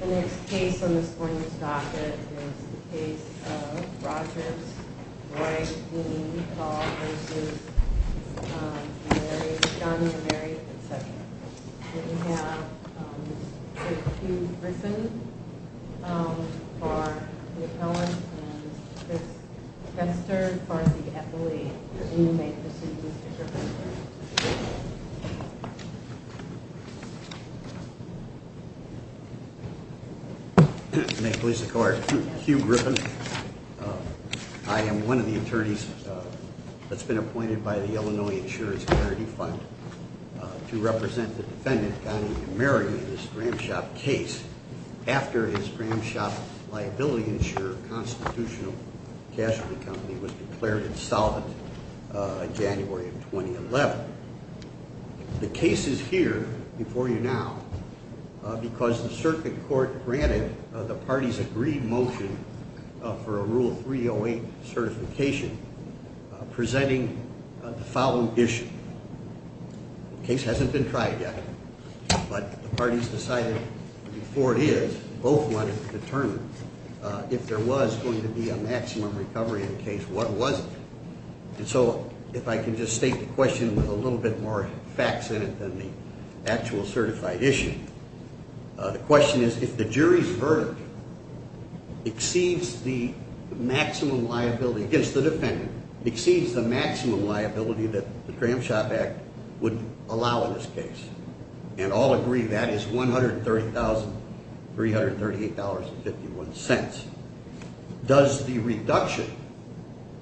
The next case on this morning's docket is the case of Rogers v. Imeri, John Imeri, etc. We have Mr. Hugh Griffin for the appellant and Mr. Chris Vester for the appellate. You may proceed, Mr. Griffin. May it please the court, Hugh Griffin. I am one of the attorneys that's been appointed by the Illinois Insurance Charity Fund to represent the defendant, John Imeri, in this Gramshop case. After his Gramshop Liability Insurance Constitutional Casualty Company was declared insolvent in January of 2011. The case is here before you now because the circuit court granted the parties agreed motion for a Rule 308 certification presenting the following issue. The case hasn't been tried yet, but the parties decided before it is, both wanted to determine if there was going to be a maximum recovery in the case. What was it? And so if I can just state the question with a little bit more facts in it than the actual certified issue. The question is, if the jury's verdict exceeds the maximum liability against the defendant, exceeds the maximum liability that the Gramshop Act would allow in this case, and all agree that is $130,338.51, does the reduction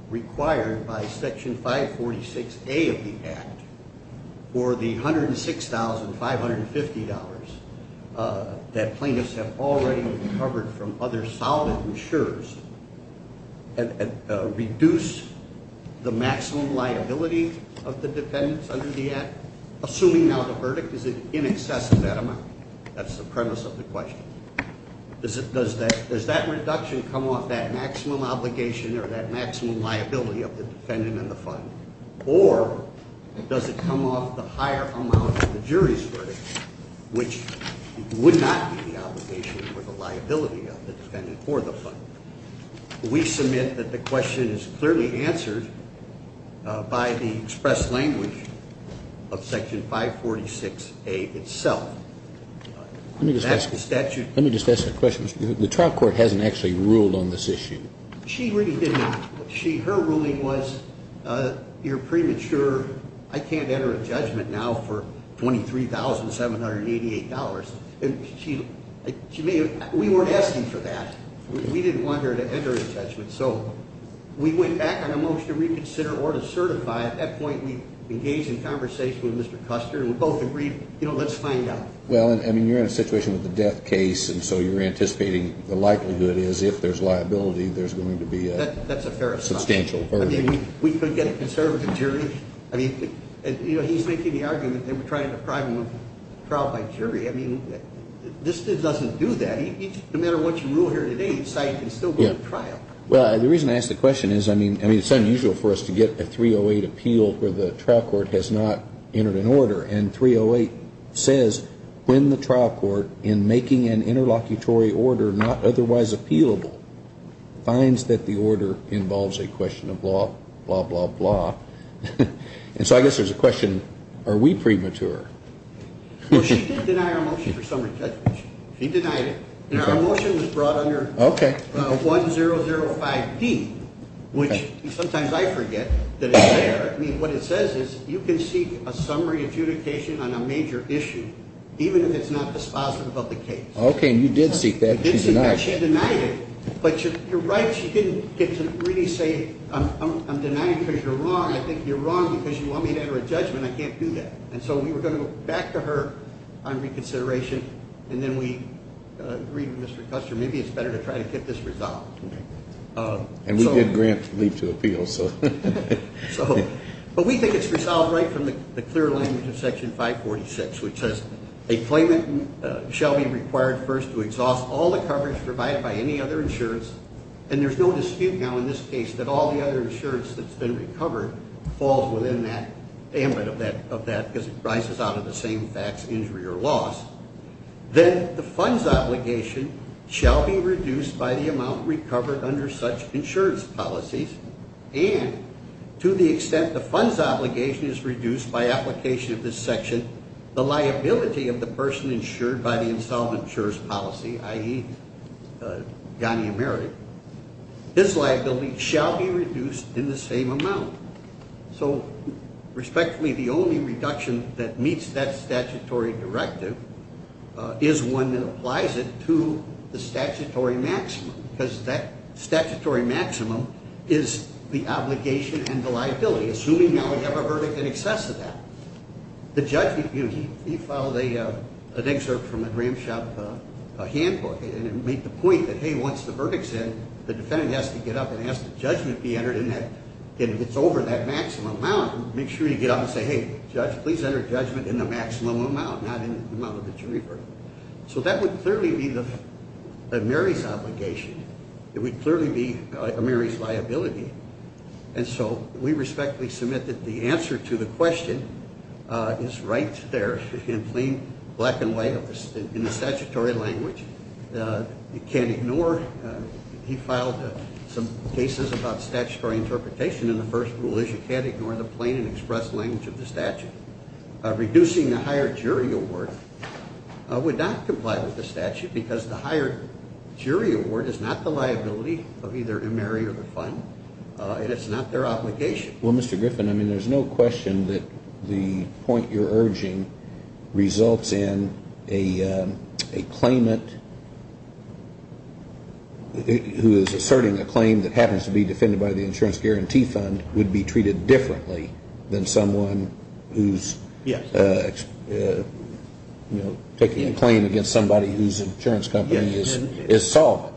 required by Section 546A of the Act for the $106,550 that plaintiffs have already recovered from other solid insurers reduce the maximum liability of the defendants under the Act? Assuming now the verdict is in excess of that amount, that's the premise of the question. Does that reduction come off that maximum obligation or that maximum liability of the defendant and the fund? Or does it come off the higher amount of the jury's verdict, which would not be the obligation or the liability of the defendant or the fund? We submit that the question is clearly answered by the express language of Section 546A itself. That's the statute. Let me just ask a question. The trial court hasn't actually ruled on this issue. She really didn't. Her ruling was, you're premature. I can't enter a judgment now for $23,788. We weren't asking for that. We didn't want her to enter a judgment. So we went back on a motion to reconsider or to certify. At that point, we engaged in conversation with Mr. Custer, and we both agreed, you know, let's find out. Well, I mean, you're in a situation with a death case, and so you're anticipating the likelihood is if there's liability, there's going to be a substantial verdict. That's a fair assumption. I mean, we could get a conservative jury. I mean, you know, he's making the argument they were trying to prime him on trial by jury. I mean, this doesn't do that. No matter what you rule here today, the site can still go to trial. Well, the reason I ask the question is, I mean, it's unusual for us to get a 308 appeal where the trial court has not entered an order. And 308 says when the trial court, in making an interlocutory order not otherwise appealable, finds that the order involves a question of law, blah, blah, blah. And so I guess there's a question, are we premature? Well, she didn't deny our motion for summary judgment. She denied it. Our motion was brought under 1005D, which sometimes I forget that it's there. I mean, what it says is you can seek a summary adjudication on a major issue, even if it's not dispositive of the case. Okay. And you did seek that. You did seek that. She denied it. She denied it. But you're right, she didn't get to really say I'm denying it because you're wrong. I think you're wrong because you want me to enter a judgment. I can't do that. And so we were going to go back to her on reconsideration, and then we agreed with Mr. Custer, maybe it's better to try to get this resolved. And we did grant leave to appeal, so. But we think it's resolved right from the clear language of Section 546, which says, a claimant shall be required first to exhaust all the coverage provided by any other insurance, and there's no dispute now in this case that all the other insurance that's been recovered falls within that ambit of that because it rises out of the same facts, injury or loss. Then the fund's obligation shall be reduced by the amount recovered under such insurance policies, and to the extent the fund's obligation is reduced by application of this section, the liability of the person insured by the insolvent insurer's policy, i.e., Ghani Ameri, this liability shall be reduced in the same amount. So, respectfully, the only reduction that meets that statutory directive is one that applies it to the statutory maximum because that statutory maximum is the obligation and the liability, assuming now we have a verdict in excess of that. The judge, he filed an excerpt from a Gramshop handbook, and it made the point that, hey, once the verdict's in, the defendant has to get up and ask that judgment be entered, and if it's over that maximum amount, make sure you get up and say, hey, judge, please enter judgment in the maximum amount, not in the amount of the jury verdict. So that would clearly be Ameri's obligation. It would clearly be Ameri's liability. And so we respectfully submit that the answer to the question is right there in plain black and white in the statutory language. You can't ignore, he filed some cases about statutory interpretation, and the first rule is you can't ignore the plain and express language of the statute. Reducing the hired jury award would not comply with the statute because the hired jury award is not the liability of either Ameri or the fund, and it's not their obligation. Well, Mr. Griffin, I mean, there's no question that the point you're urging results in a claimant who is asserting a claim that happens to be defended by the insurance guarantee fund would be treated differently than someone who's, you know, taking a claim against somebody whose insurance company is solvent.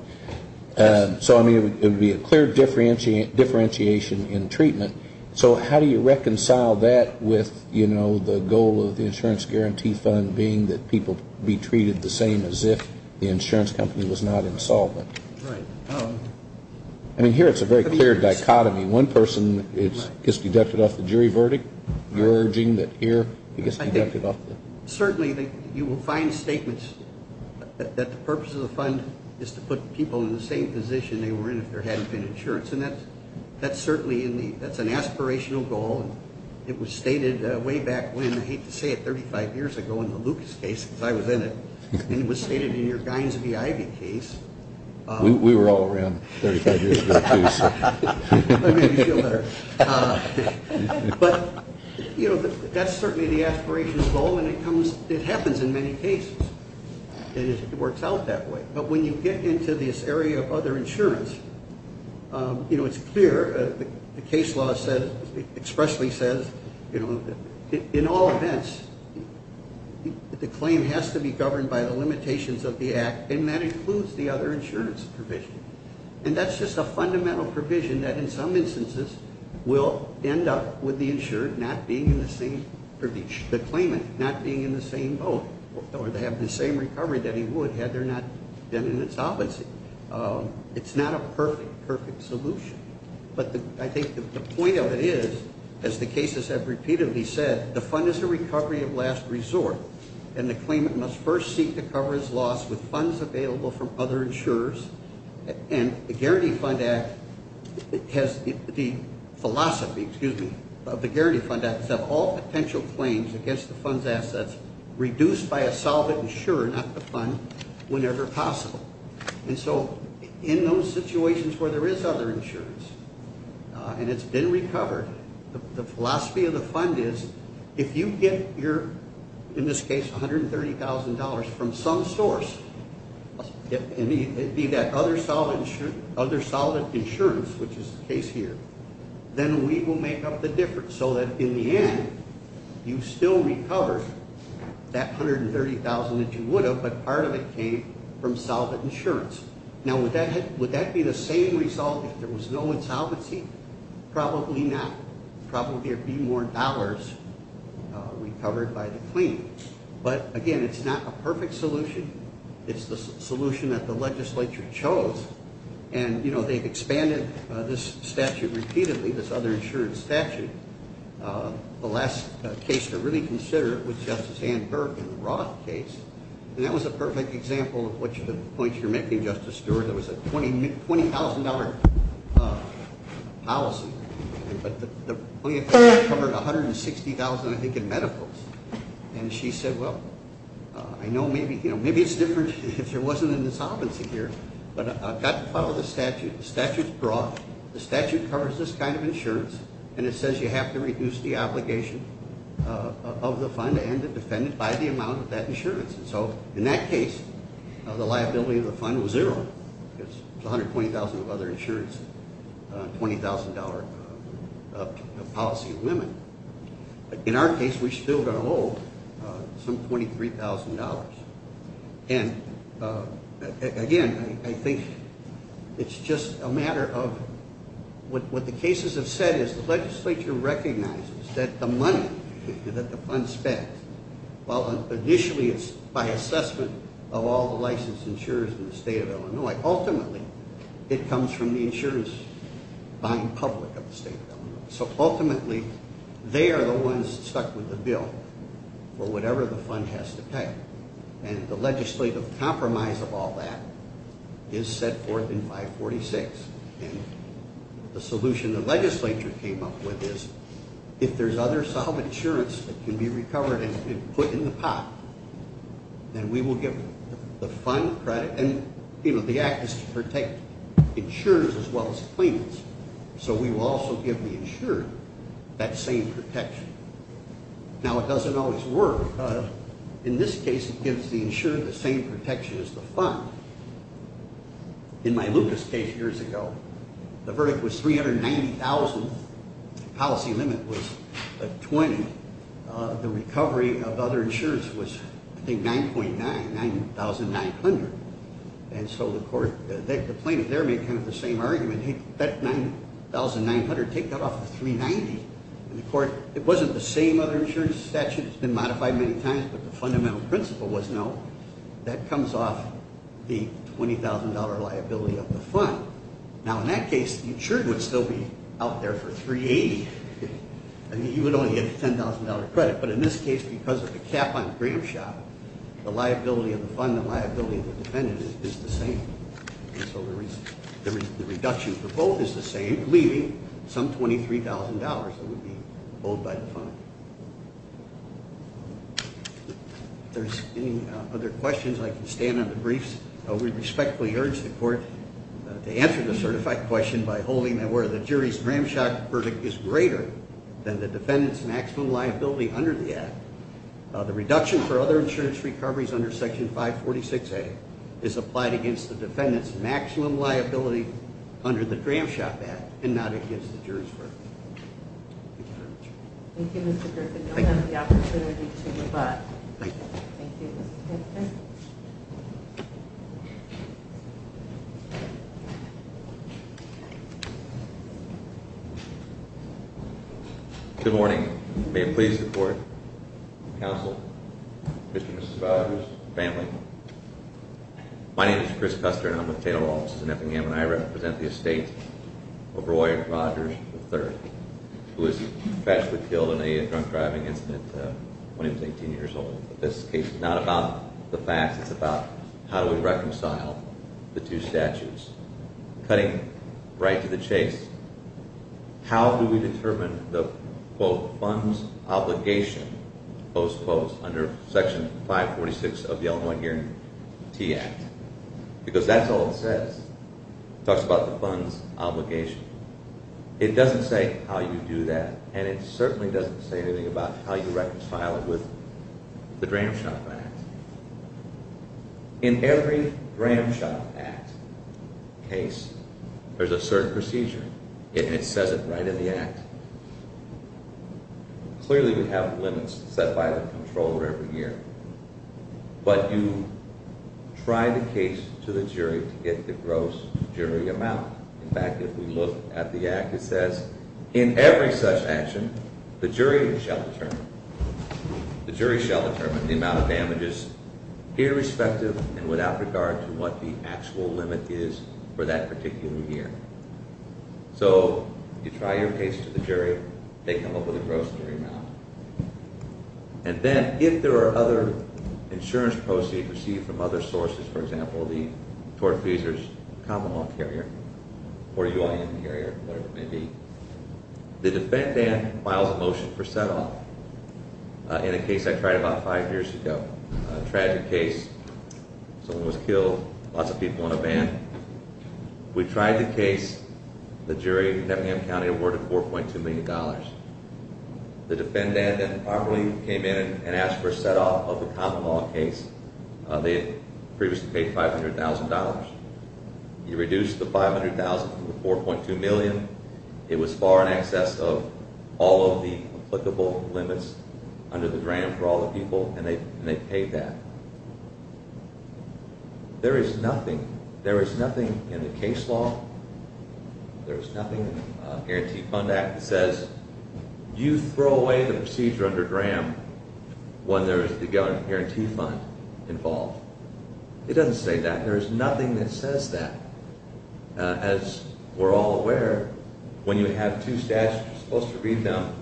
So, I mean, it would be a clear differentiation in treatment. So how do you reconcile that with, you know, the goal of the insurance guarantee fund being that people be treated the same as if the insurance company was not in solvent? Right. I mean, here it's a very clear dichotomy. One person gets deducted off the jury verdict. You're urging that here he gets deducted off. Certainly, you will find statements that the purpose of the fund is to put people in the same position they were in if there hadn't been insurance, and that's certainly an aspirational goal. It was stated way back when, I hate to say it, 35 years ago in the Lucas case, because I was in it, and it was stated in your Gines v. Ivy case. We were all around 35 years ago, too, so. I mean, you feel better. But, you know, that's certainly the aspirational goal, and it happens in many cases. It works out that way. But when you get into this area of other insurance, you know, it's clear. The case law expressly says, you know, in all events, the claim has to be governed by the limitations of the act, and that includes the other insurance provision. And that's just a fundamental provision that in some instances will end up with the claimant not being in the same boat or to have the same recovery that he would had there not been an insolvency. It's not a perfect, perfect solution. But I think the point of it is, as the cases have repeatedly said, the fund is a recovery of last resort, and the claimant must first seek to cover his loss with funds available from other insurers. And the Guaranteed Fund Act has the philosophy, excuse me, of the Guaranteed Fund Act to have all potential claims against the fund's assets reduced by a solvent insurer, not the fund, whenever possible. And so in those situations where there is other insurance and it's been recovered, the philosophy of the fund is, if you get your, in this case, $130,000 from some source, it be that other solvent insurance, which is the case here, then we will make up the difference so that in the end, you still recover that $130,000 that you would have, but part of it came from solvent insurance. Now, would that be the same result if there was no insolvency? Probably not. Probably there would be more dollars recovered by the claimant. But, again, it's not a perfect solution. It's the solution that the legislature chose, and, you know, they've expanded this statute repeatedly, this other insurance statute. The last case to really consider was Justice Ann Burke in the Roth case, and that was a perfect example of the points you're making, Justice Stewart. There was a $20,000 policy, but the only thing that covered $160,000, I think, in medicals. And she said, well, I know maybe it's different if there wasn't an insolvency here, but I've got to follow the statute. The statute's broad. The statute covers this kind of insurance, and it says you have to reduce the obligation of the fund and the defendant by the amount of that insurance. And so, in that case, the liability of the fund was zero. It was $120,000 of other insurance, $20,000 of policy of women. In our case, we still got to hold some $23,000. And, again, I think it's just a matter of what the cases have said is the legislature recognizes that the money that the fund spent, well, initially it's by assessment of all the licensed insurers in the state of Illinois. Ultimately, it comes from the insurers buying public of the state of Illinois. So, ultimately, they are the ones stuck with the bill for whatever the fund has to pay. And the legislative compromise of all that is set forth in 546. And the solution the legislature came up with is if there's other solid insurance that can be recovered and put in the pot, then we will give the fund credit. And, you know, the act is to protect insurers as well as claimants. So we will also give the insurer that same protection. Now, it doesn't always work. In this case, it gives the insurer the same protection as the fund. In my Lucas case years ago, the verdict was $390,000. The policy limit was $20,000. The recovery of other insurance was, I think, $9.9, $9,900. And so the court, the plaintiff there made kind of the same argument. Hey, that $9,900, take that off the $390,000. And the court, it wasn't the same other insurance statute. It's been modified many times, but the fundamental principle was no. That comes off the $20,000 liability of the fund. Now, in that case, the insured would still be out there for $380,000. I mean, you would only get a $10,000 credit. But in this case, because of the cap on the gram shop, the liability of the fund, the liability of the defendant is the same. And so the reduction for both is the same, leaving some $23,000 that would be owed by the fund. If there's any other questions, I can stand on the briefs. We respectfully urge the court to answer the certified question by holding that where the jury's gram shop verdict is greater than the defendant's maximum liability under the act, the reduction for other insurance recoveries under Section 546A is applied against the defendant's maximum liability under the gram shop act and not against the jury's verdict. Thank you, Mr. Griffin. You'll have the opportunity to rebut. Thank you. Thank you, Mr. Griffin. Good morning. May it please the court, counsel, Mr. and Mrs. Rogers, family. My name is Chris Custer, and I'm with Tatum Law Offices in Effingham, and I represent the estate of Roy Rogers III, who was tragically killed in a drunk driving incident when he was 18 years old. This case is not about the facts. It's about how do we reconcile the two statutes. Cutting right to the chase, how do we determine the, quote, funds obligation, under Section 546 of the Illinois Hearing T Act, because that's all it says. It talks about the funds obligation. It doesn't say how you do that, and it certainly doesn't say anything about how you reconcile it with the gram shop act. In every gram shop act case, there's a certain procedure, and it says it right in the act. Clearly, we have limits set by the controller every year, but you try the case to the jury to get the gross jury amount. In fact, if we look at the act, it says, in every such action, the jury shall determine the amount of damages, irrespective and without regard to what the actual limit is for that particular year. So you try your case to the jury. They come up with a gross jury amount, and then if there are other insurance proceeds received from other sources, for example, the tortfeasors, common law carrier, or UIN carrier, whatever it may be, the defendant files a motion for set off. In a case I tried about five years ago, a tragic case, someone was killed, lots of people on a van. We tried the case. The jury in Neffingham County awarded $4.2 million. The defendant improperly came in and asked for a set off of the common law case. They had previously paid $500,000. He reduced the $500,000 to the $4.2 million. It was far in excess of all of the applicable limits under the gram for all the people, and they paid that. There is nothing. There is nothing in the case law. There is nothing in the Guarantee Fund Act that says you throw away the procedure under gram when there is the Guarantee Fund involved. It doesn't say that. There is nothing that says that. As we're all aware, when you have two statutes, you're supposed to read them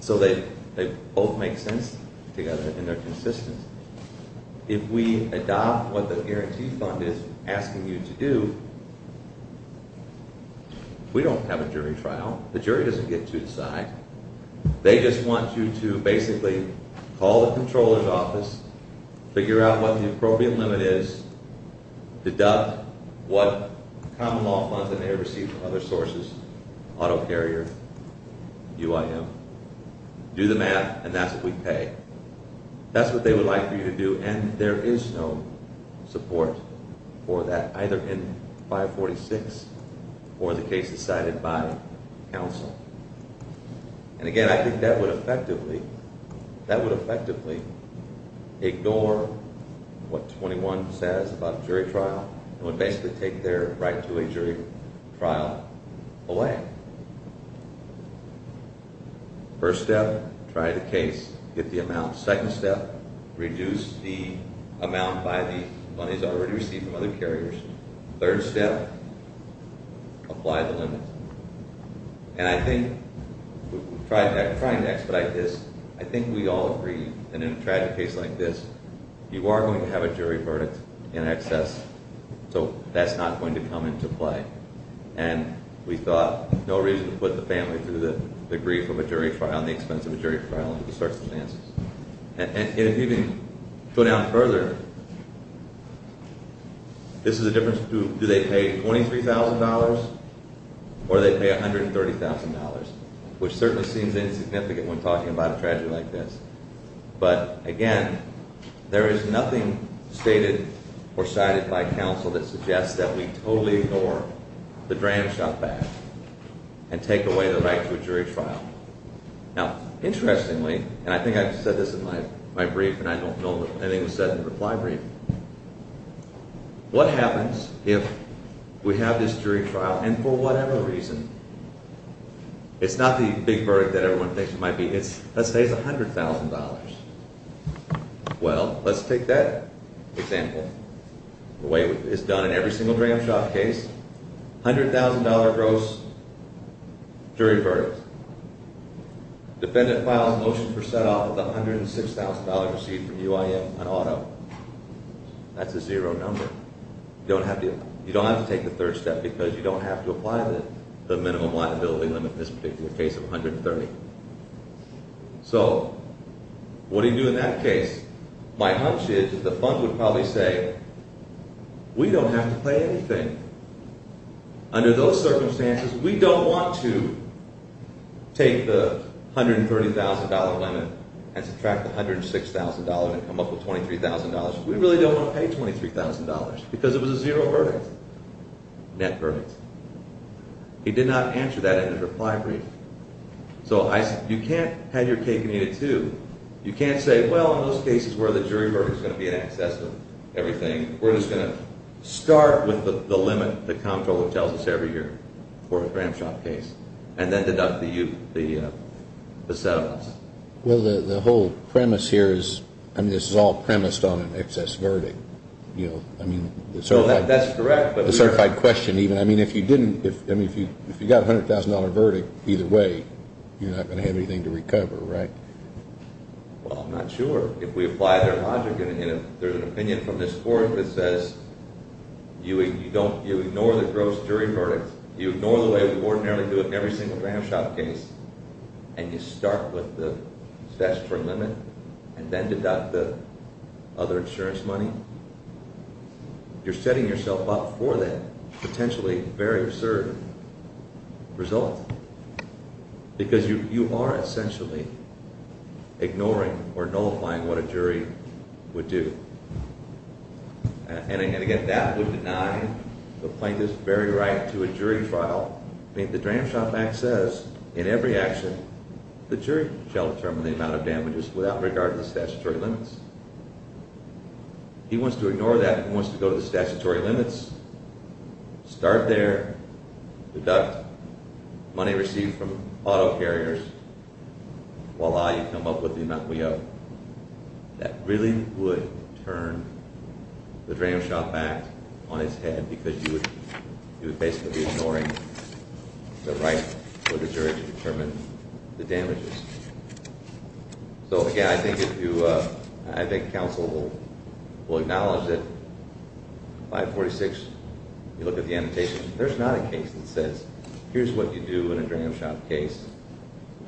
so they both make sense together and they're consistent. If we adopt what the Guarantee Fund is asking you to do, we don't have a jury trial. The jury doesn't get to decide. They just want you to basically call the comptroller's office, figure out what the appropriate limit is, deduct what common law funds that they receive from other sources, auto carrier, UIM, do the math, and that's what we pay. That's what they would like for you to do, and there is no support for that, either in 546 or the case decided by counsel. And again, I think that would effectively ignore what 21 says about a jury trial. It would basically take their right to a jury trial away. First step, try the case, get the amount. Second step, reduce the amount by the monies already received from other carriers. Third step, apply the limit. And I think we all agree that in a tragic case like this, you are going to have a jury verdict in excess, so that's not going to come into play. And we thought, no reason to put the family through the grief of a jury trial and the expense of a jury trial under the circumstances. And if you can go down further, this is a difference between do they pay $23,000 or do they pay $130,000, which certainly seems insignificant when talking about a tragedy like this. But again, there is nothing stated or cited by counsel that suggests that we totally ignore the dram shot back and take away the right to a jury trial. Now, interestingly, and I think I've said this in my brief and I don't know if anything was said in the reply brief, what happens if we have this jury trial and for whatever reason, it's not the big verdict that everyone thinks it might be. Let's say it's $100,000. Well, let's take that example, the way it's done in every single dram shot case. $100,000 gross jury verdict. Defendant files a motion for set off of the $106,000 received from UIN on auto. That's a zero number. You don't have to take the third step because you don't have to apply the minimum liability limit in this particular case of $130,000. So what do you do in that case? My hunch is that the fund would probably say, we don't have to pay anything. Under those circumstances, we don't want to take the $130,000 limit and subtract the $106,000 and come up with $23,000. We really don't want to pay $23,000 because it was a zero verdict, net verdict. He did not answer that in his reply brief. So you can't have your cake and eat it too. You can't say, well, in those cases where the jury verdict is going to be in excess of everything, we're just going to start with the limit that Comptroller tells us every year for a dram shot case and then deduct the settlements. Well, the whole premise here is, I mean, this is all premised on an excess verdict. You know, I mean, the certified question even. I mean, if you didn't, I mean, if you got a $100,000 verdict, either way, you're not going to have anything to recover, right? Well, I'm not sure. If we apply their logic and if there's an opinion from this Court that says you ignore the gross jury verdict, you ignore the way we ordinarily do it in every single dram shot case, and you start with the best for a limit and then deduct the other insurance money, you're setting yourself up for that potentially very absurd result because you are essentially ignoring or nullifying what a jury would do. And again, that would deny the plaintiff's very right to a jury trial. I mean, the dram shot back says, in every action, the jury shall determine the amount of damages without regard to the statutory limits. He wants to ignore that. He wants to go to the statutory limits, start there, deduct money received from auto carriers. Voila, you come up with the amount we owe. That really would turn the dram shot back on its head because you would basically be ignoring the right for the jury to determine the damages. So, again, I think counsel will acknowledge that 546, you look at the annotation, there's not a case that says, here's what you do in a dram shot case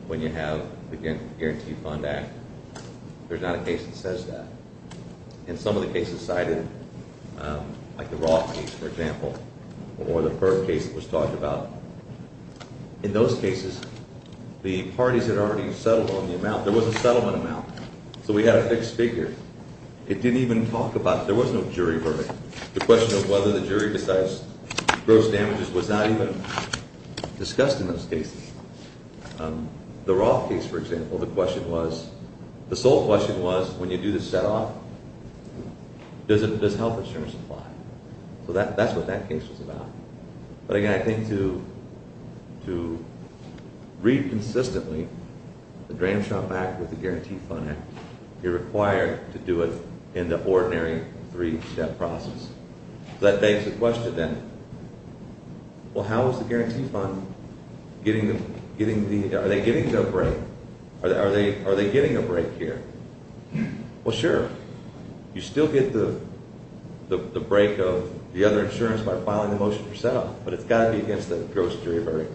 when you have the Guarantee Fund Act. There's not a case that says that. In some of the cases cited, like the Roth case, for example, or the Ferb case that was talked about, in those cases, the parties had already settled on the amount. There was a settlement amount, so we had a fixed figure. It didn't even talk about it. There was no jury verdict. The question of whether the jury decides gross damages was not even discussed in those cases. The Roth case, for example, the question was, the sole question was, when you do the set off, does health insurance apply? So that's what that case was about. But, again, I think to read consistently the Dram Shot Back with the Guarantee Fund Act, you're required to do it in the ordinary three-step process. So that begs the question, then, well, how is the Guarantee Fund getting the, are they getting the break? Are they getting a break here? Well, sure, you still get the break of the other insurance by filing the motion for set off, but it's got to be against the gross jury verdict.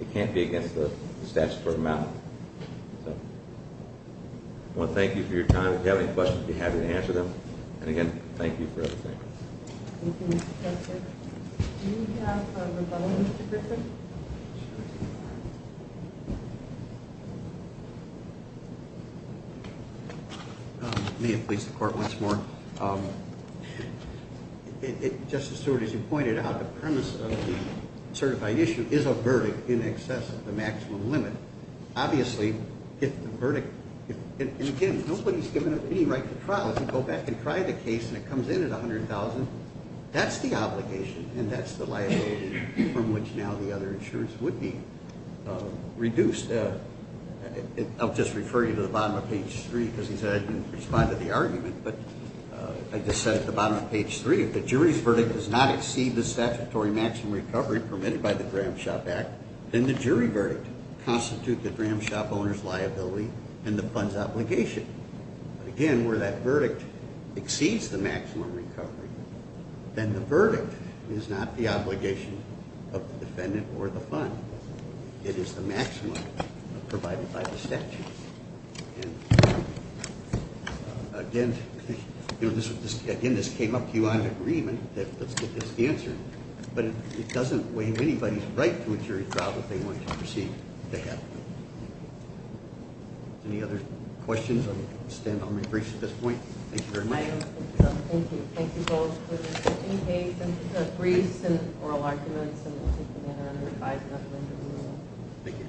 It can't be against the statute for amount. So I want to thank you for your time. If you have any questions, I'd be happy to answer them. And, again, thank you for everything. Thank you, Mr. Justice. Do we have a rebuttal, Mr. Griffin? May it please the Court once more? Justice Stewart, as you pointed out, the premise of the certified issue is a verdict in excess of the maximum limit. Obviously, if the verdict, and, again, nobody's given up any right to trial. If you go back and try the case and it comes in at $100,000, that's the obligation, and that's the liability from which now the other insurance would be reduced. I'll just refer you to the bottom of page 3 because he said I didn't respond to the argument, but I just said at the bottom of page 3, if the jury's verdict does not exceed the statutory maximum recovery permitted by the Gramshop Act, then the jury verdict constitutes the Gramshop owner's liability and the fund's obligation. But, again, where that verdict exceeds the maximum recovery, then the verdict is not the obligation of the defendant or the fund. It is the maximum provided by the statute. Again, this came up to you on an agreement that let's get this answered, but it doesn't waive anybody's right to a jury trial that they want to proceed to have. Any other questions? I'll stand on my briefs at this point. Thank you very much. Thank you. Any briefs and oral arguments? Thank you.